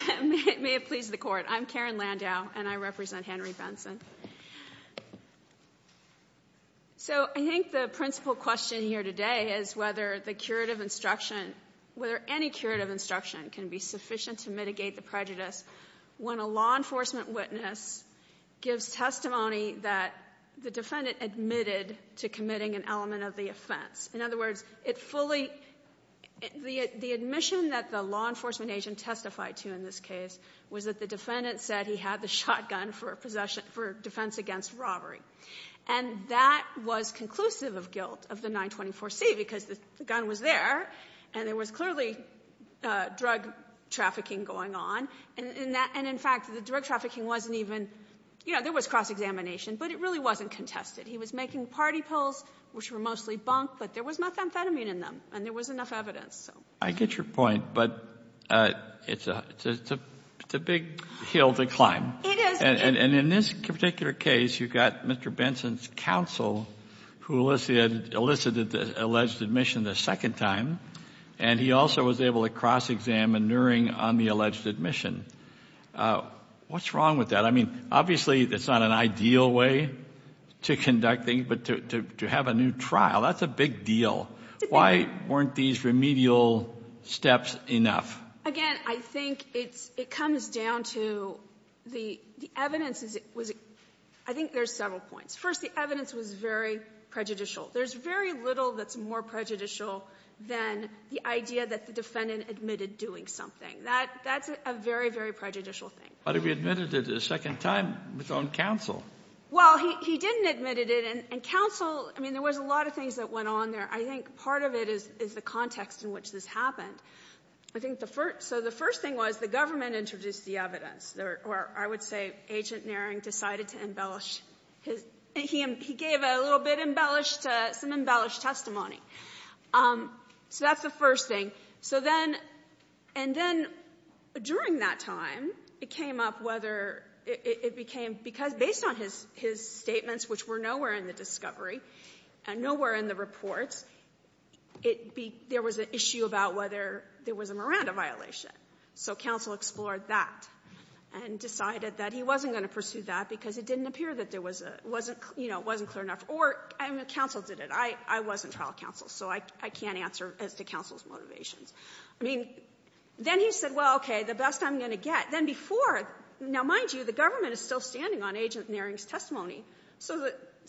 and it may have pleased the court. I'm Karen Landau and I represent Henry Benson. So I think the principal question here today is whether the curative instruction, whether any curative instruction can be sufficient to mitigate the prejudice when a law enforcement witness gives testimony that the defendant admitted to committing an element of the offense. In other words, it fully, the admission that the law enforcement agent testified to in this case was that the defendant said he had the shotgun for defense against robbery. And that was conclusive of guilt of the 924C because the gun was there and there was clearly drug trafficking going on. And in fact, the drug trafficking wasn't even, you know, there was cross-examination, but it really wasn't contested. He was making party pills, which were mostly bunk, but there was methamphetamine in them and there was enough evidence. I get your point, but it's a big hill to climb. And in this particular case, you've got Mr. Benson's counsel who elicited the alleged admission the second time, and he also was able to cross-examine Neuring on the alleged admission. What's wrong with that? I mean, obviously it's not an ideal way to conducting, but to have a trial, that's a big deal. Why weren't these remedial steps enough? Again, I think it's, it comes down to the evidence. I think there's several points. First, the evidence was very prejudicial. There's very little that's more prejudicial than the idea that the defendant admitted doing something. That's a very, very prejudicial thing. But if he admitted it a second time, it's on counsel. Well, he didn't admit it, and counsel, I mean, there was a lot of things that went on there. I think part of it is the context in which this happened. I think the first, so the first thing was the government introduced the evidence, or I would say Agent Neuring decided to embellish his, he gave a little bit embellished, some embellished testimony. So that's the first thing. So then, and then during that time, it came up whether it became, because based on his statements, which were nowhere in the discovery and nowhere in the reports, it be, there was an issue about whether there was a Miranda violation. So counsel explored that and decided that he wasn't going to pursue that because it didn't appear that there was a, wasn't, you know, wasn't clear enough. Or, I mean, counsel did it. I wasn't trial counsel, so I can't answer as to counsel's motivations. I mean, then he said, well, okay, the best I'm going to get. Then before, now mind you, the government is still standing on Agent Neuring's testimony. So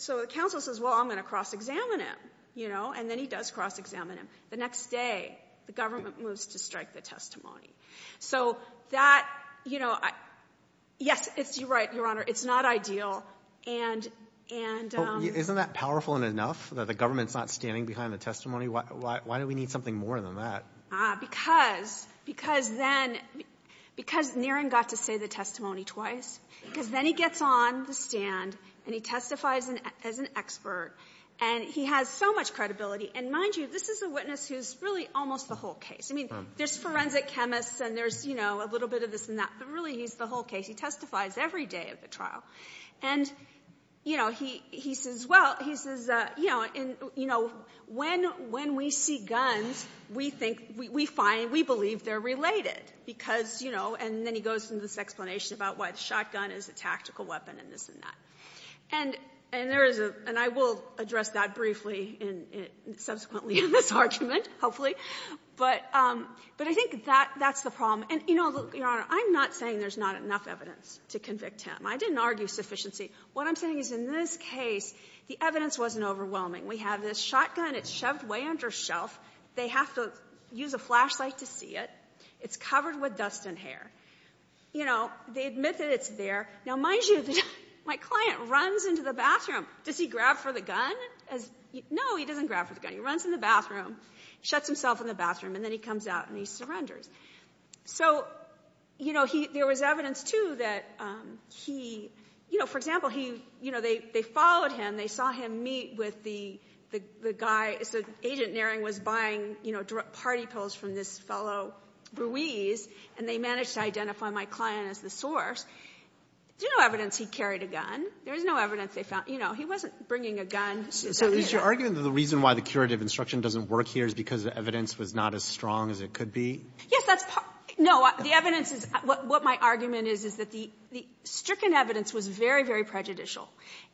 the counsel says, well, I'm going to cross-examine him, you know, and then he does cross-examine him. The next day, the government moves to strike the testimony. So that, you know, yes, it's, you're right, Your Honor, it's not ideal. And, and, um. Isn't that powerful enough that the government's not standing behind the testimony? Why, why do we need something more than that? Ah, because, because then, because Neuring got to say the testimony twice. Because then he gets on the stand and he testifies as an expert. And he has so much credibility. And mind you, this is a witness who's really almost the whole case. I mean, there's forensic chemists and there's, you know, a little bit of this and that. But really, he's the whole case. He testifies every day of the trial. And, you know, he, he says, well, he says, you know, in, you know, when, when we see guns, we think, we find, we believe they're related. Because, you know, and then he goes into this explanation about why the shotgun is a tactical weapon and this and that. And, and there is a, and I will address that briefly in, in, subsequently in this argument, hopefully. But, but I think that, that's the problem. And, you know, Your Honor, I'm not saying there's not enough evidence to convict him. I didn't argue sufficiency. What I'm saying is in this case, the evidence wasn't overwhelming. We have this shotgun. It's shoved way under shelf. They have to use a flashlight to see it. It's covered with dust and hair. You know, they admit that it's there. Now, mind you, my client runs into the bathroom. Does he grab for the gun? No, he doesn't grab for the gun. He runs in the bathroom, shuts himself in the bathroom, and then he comes out and he surrenders. So, you know, he, there was evidence, too, that he, you know, for example, he, you know, they, they followed him. They saw him meet with the, the, the guy, so Agent Naring was buying, you know, party pills from this fellow, Ruiz, and they managed to identify my client as the source. There's no evidence he carried a gun. There's no evidence they found, you know, he wasn't bringing a gun. So is your argument that the reason why the curative instruction doesn't work here is because the evidence was not as strong as it could be? Yes, that's part. No, the evidence is, what my argument is, is that the, the stricken evidence was very, very prejudicial.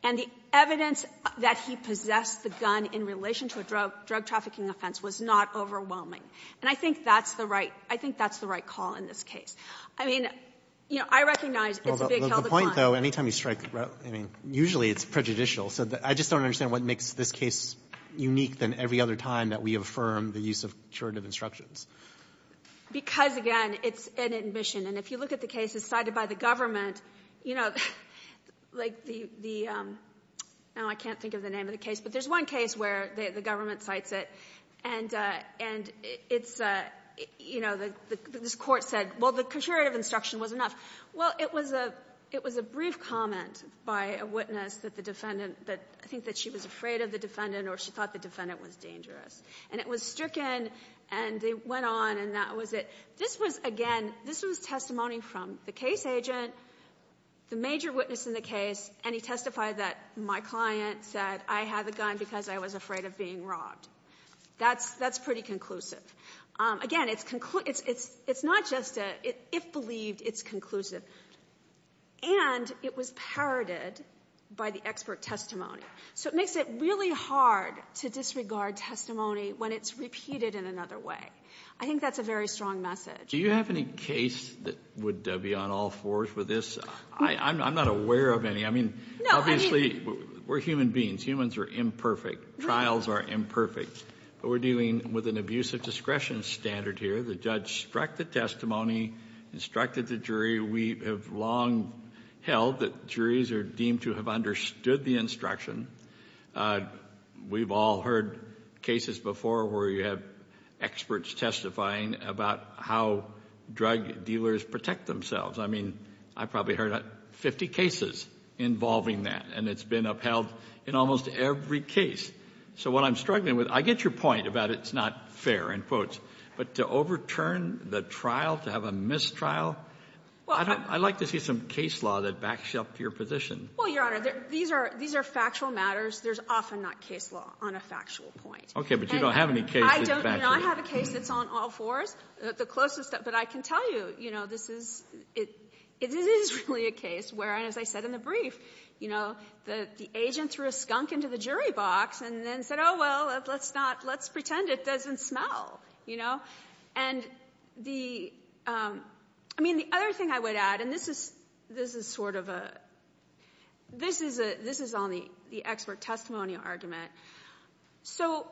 And the evidence that he possessed the gun in relation to a drug, drug trafficking offense was not overwhelming. And I think that's the right, I think that's the right call in this case. I mean, you know, I recognize it's a big held account. Well, the point, though, any time you strike, I mean, usually it's prejudicial. So I just don't understand what makes this case unique than every other time that we affirm the use of curative instructions. Because, again, it's an admission. And if you look at the cases cited by the government, you know, like the, the, now I can't think of the name of the case, but there's one case where the government cites it, and, and it's, you know, this Court said, well, the curative instruction was enough. Well, it was a, it was a brief comment by a witness that the defendant, that I think that she was afraid of the defendant or she thought the defendant was dangerous. And it was stricken, and they went on, and that was it. This was, again, this was testimony from the case agent, the major witness in the case, and he testified that my client said, I had the gun because I was afraid of being robbed. That's, that's pretty conclusive. Again, it's, it's, it's not just a, if believed, it's conclusive. And it was parroted by the expert testimony. So it makes it really hard to disregard testimony when it's repeated in another way. I think that's a very strong message. Do you have any case that would be on all fours with this? I, I'm, I'm not aware of any. I mean, obviously, we're human beings. Humans are imperfect. Trials are imperfect. But we're dealing with an abuse of discretion standard here. The judge struck the testimony, instructed the jury. We have long held that juries are deemed to have understood the instruction. We've all heard cases before where you have experts testifying about how drug dealers protect themselves. I mean, I probably heard 50 cases involving that, and it's been upheld in almost every case. So what I'm struggling with, I get your point about it's not fair, in quotes. But to overturn the trial, to have a mistrial. I'd like to see some case law that backs you up to your position. Well, Your Honor, these are, these are factual matters. There's often not case law on a factual point. Okay, but you don't have any case that's factual. I don't, you know, I have a case that's on all fours. The closest that, but I can tell you, you know, this is, it, it is really a case where, and as I said in the brief, you know, the, the agent threw a skunk into the jury box and then said, oh, well, let's not, let's pretend it doesn't smell. You know, and the I mean, the other thing I would add, and this is, this is sort of a, this is a, this is on the, the expert testimonial argument. So,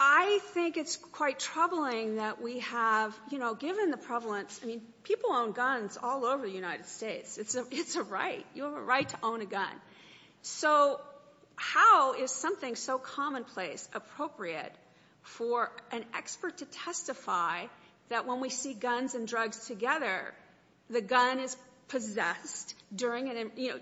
I think it's quite troubling that we have, you know, given the prevalence. I mean, people own guns all over the United States. It's a, it's a right. You have a right to own a gun. So, how is something so commonplace appropriate for an expert to testify that when we see guns and drugs together, the gun is possessed during an, you know,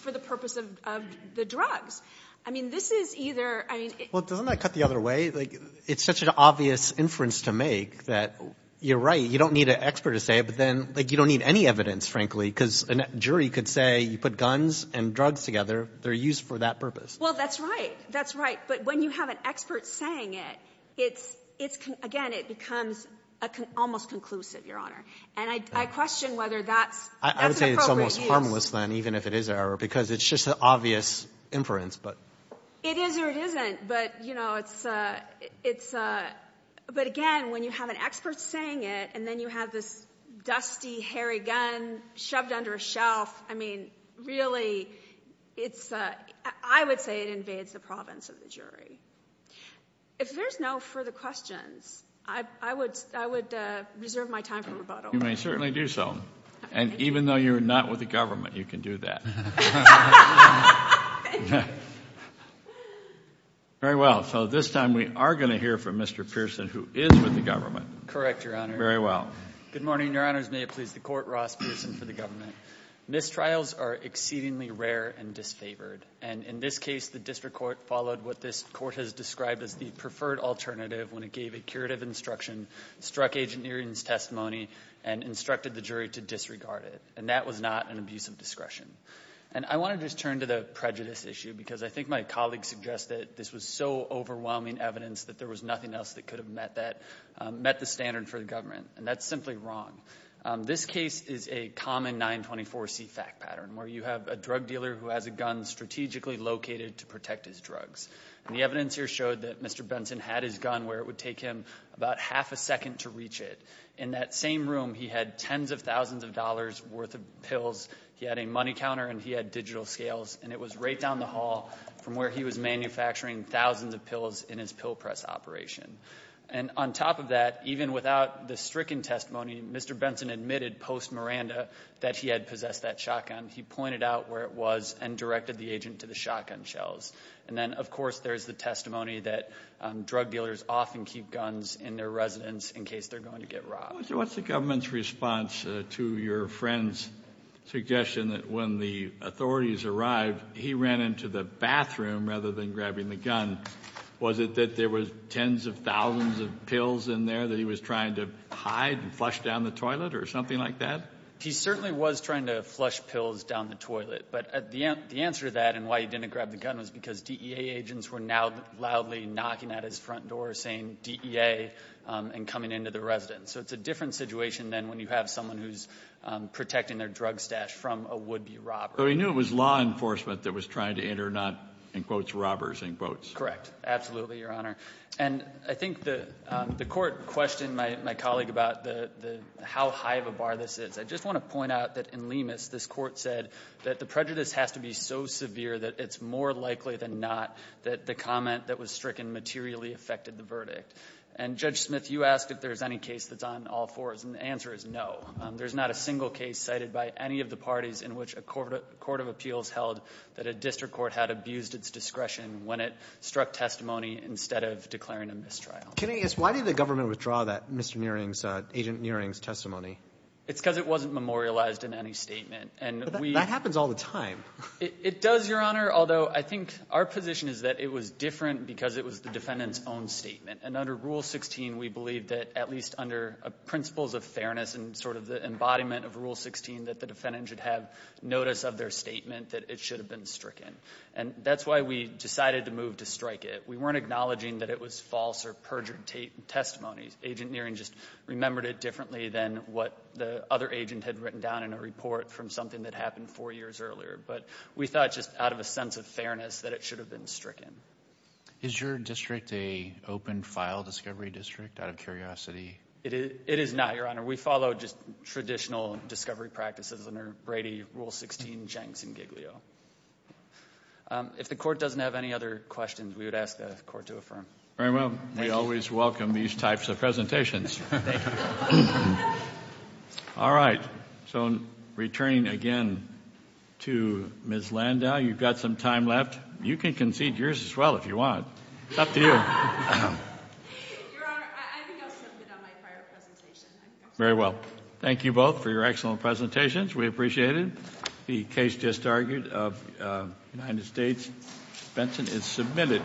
for the purpose of, of the drugs? I mean, this is either, I mean. Well, doesn't that cut the other way? Like, it's such an obvious inference to make that you're right, you don't need an expert to say it, but then, like, you don't need any evidence, frankly, because a jury could say, you put guns and drugs together, they're used for that purpose. Well, that's right. That's right. But when you have an expert saying it, it's, it's, again, it becomes a con, almost conclusive, Your Honor. And I, I question whether that's, that's an appropriate use. I, I would say it's almost harmless then, even if it is an error, because it's just an obvious inference, but. It is or it isn't, but, you know, it's, it's, but again, when you have an expert saying it, and then you have this dusty, hairy gun shoved under a shelf, I mean, really, it's, I would say it invades the province of the jury. If there's no further questions, I, I would, I would reserve my time for rebuttal. You may certainly do so. And even though you're not with the government, you can do that. Very well, so this time we are going to hear from Mr. Pearson, who is with the government. Correct, Your Honor. Very well. Good morning, Your Honors. May it please the Court. Ross Pearson for the government. Mistrials are exceedingly rare and disfavored. And in this case, the district court followed what this court has described as the preferred alternative when it gave a curative instruction, struck Agent Neering's testimony, and instructed the jury to disregard it. And that was not an abuse of discretion. And I want to just turn to the prejudice issue, because I think my colleague suggested this was so overwhelming evidence that there was nothing else that could have met that, met the standard for the government. And that's simply wrong. This case is a common 924c fact pattern, where you have a drug dealer who has a gun strategically located to protect his drugs. And the evidence here showed that Mr. Benson had his gun where it would take him about half a second to reach it. In that same room, he had tens of thousands of dollars worth of pills. He had a money counter, and he had digital scales, and it was right down the hall from where he was manufacturing thousands of pills in his pill press operation. And on top of that, even without the stricken testimony, Mr. Benson admitted post-Miranda that he had possessed that shotgun. He pointed out where it was and directed the agent to the shotgun shells. And then, of course, there's the testimony that drug dealers often keep guns in their residence in case they're going to get robbed. So what's the government's response to your friend's suggestion that when the authorities arrived, he ran into the bathroom rather than grabbing the gun? Was it that there were tens of thousands of pills in there that he was trying to hide and flush down the toilet or something like that? He certainly was trying to flush pills down the toilet. But the answer to that and why he didn't grab the gun was because DEA agents were now loudly knocking at his front door saying, DEA, and coming into the residence. So it's a different situation than when you have someone who's protecting their drug stash from a would-be robber. So he knew it was law enforcement that was trying to enter, not, in quotes, robbers, in quotes. Correct. Absolutely, Your Honor. And I think the Court questioned my colleague about how high of a bar this is. I just want to point out that in Lemus, this Court said that the prejudice has to be so severe that it's more likely than not that the comment that was stricken materially affected the verdict. And, Judge Smith, you asked if there's any case that's on all fours, and the answer is no. There's not a single case cited by any of the parties in which a court of appeals held that a district court had abused its discretion when it struck testimony instead of declaring a mistrial. Can I ask, why did the government withdraw that Mr. Niering's, Agent Niering's, testimony? It's because it wasn't memorialized in any statement. But that happens all the time. It does, Your Honor, although I think our position is that it was different because it was the defendant's own statement. And under Rule 16, we believe that at least under principles of fairness and sort of the embodiment of Rule 16, that the defendant should have notice of their statement that it should have been stricken. And that's why we decided to move to strike it. We weren't acknowledging that it was false or perjured testimony. Agent Niering just remembered it differently than what the other agent had written down in a report from something that happened four years earlier. But we thought just out of a sense of fairness that it should have been stricken. Is your district a open file discovery district out of curiosity? It is not, Your Honor. We follow just traditional discovery practices under Brady, Rule 16, Jenks, and Giglio. If the court doesn't have any other questions, we would ask the court to affirm. Very well. We always welcome these types of presentations. Thank you. All right. So returning again to Ms. Landau, you've got some time left. You can concede yours as well if you want. It's up to you. Your Honor, I think I was a little bit on my prior presentation. Very well. Thank you both for your excellent presentations. We appreciate it. The case just argued of United States, Benson is submitted.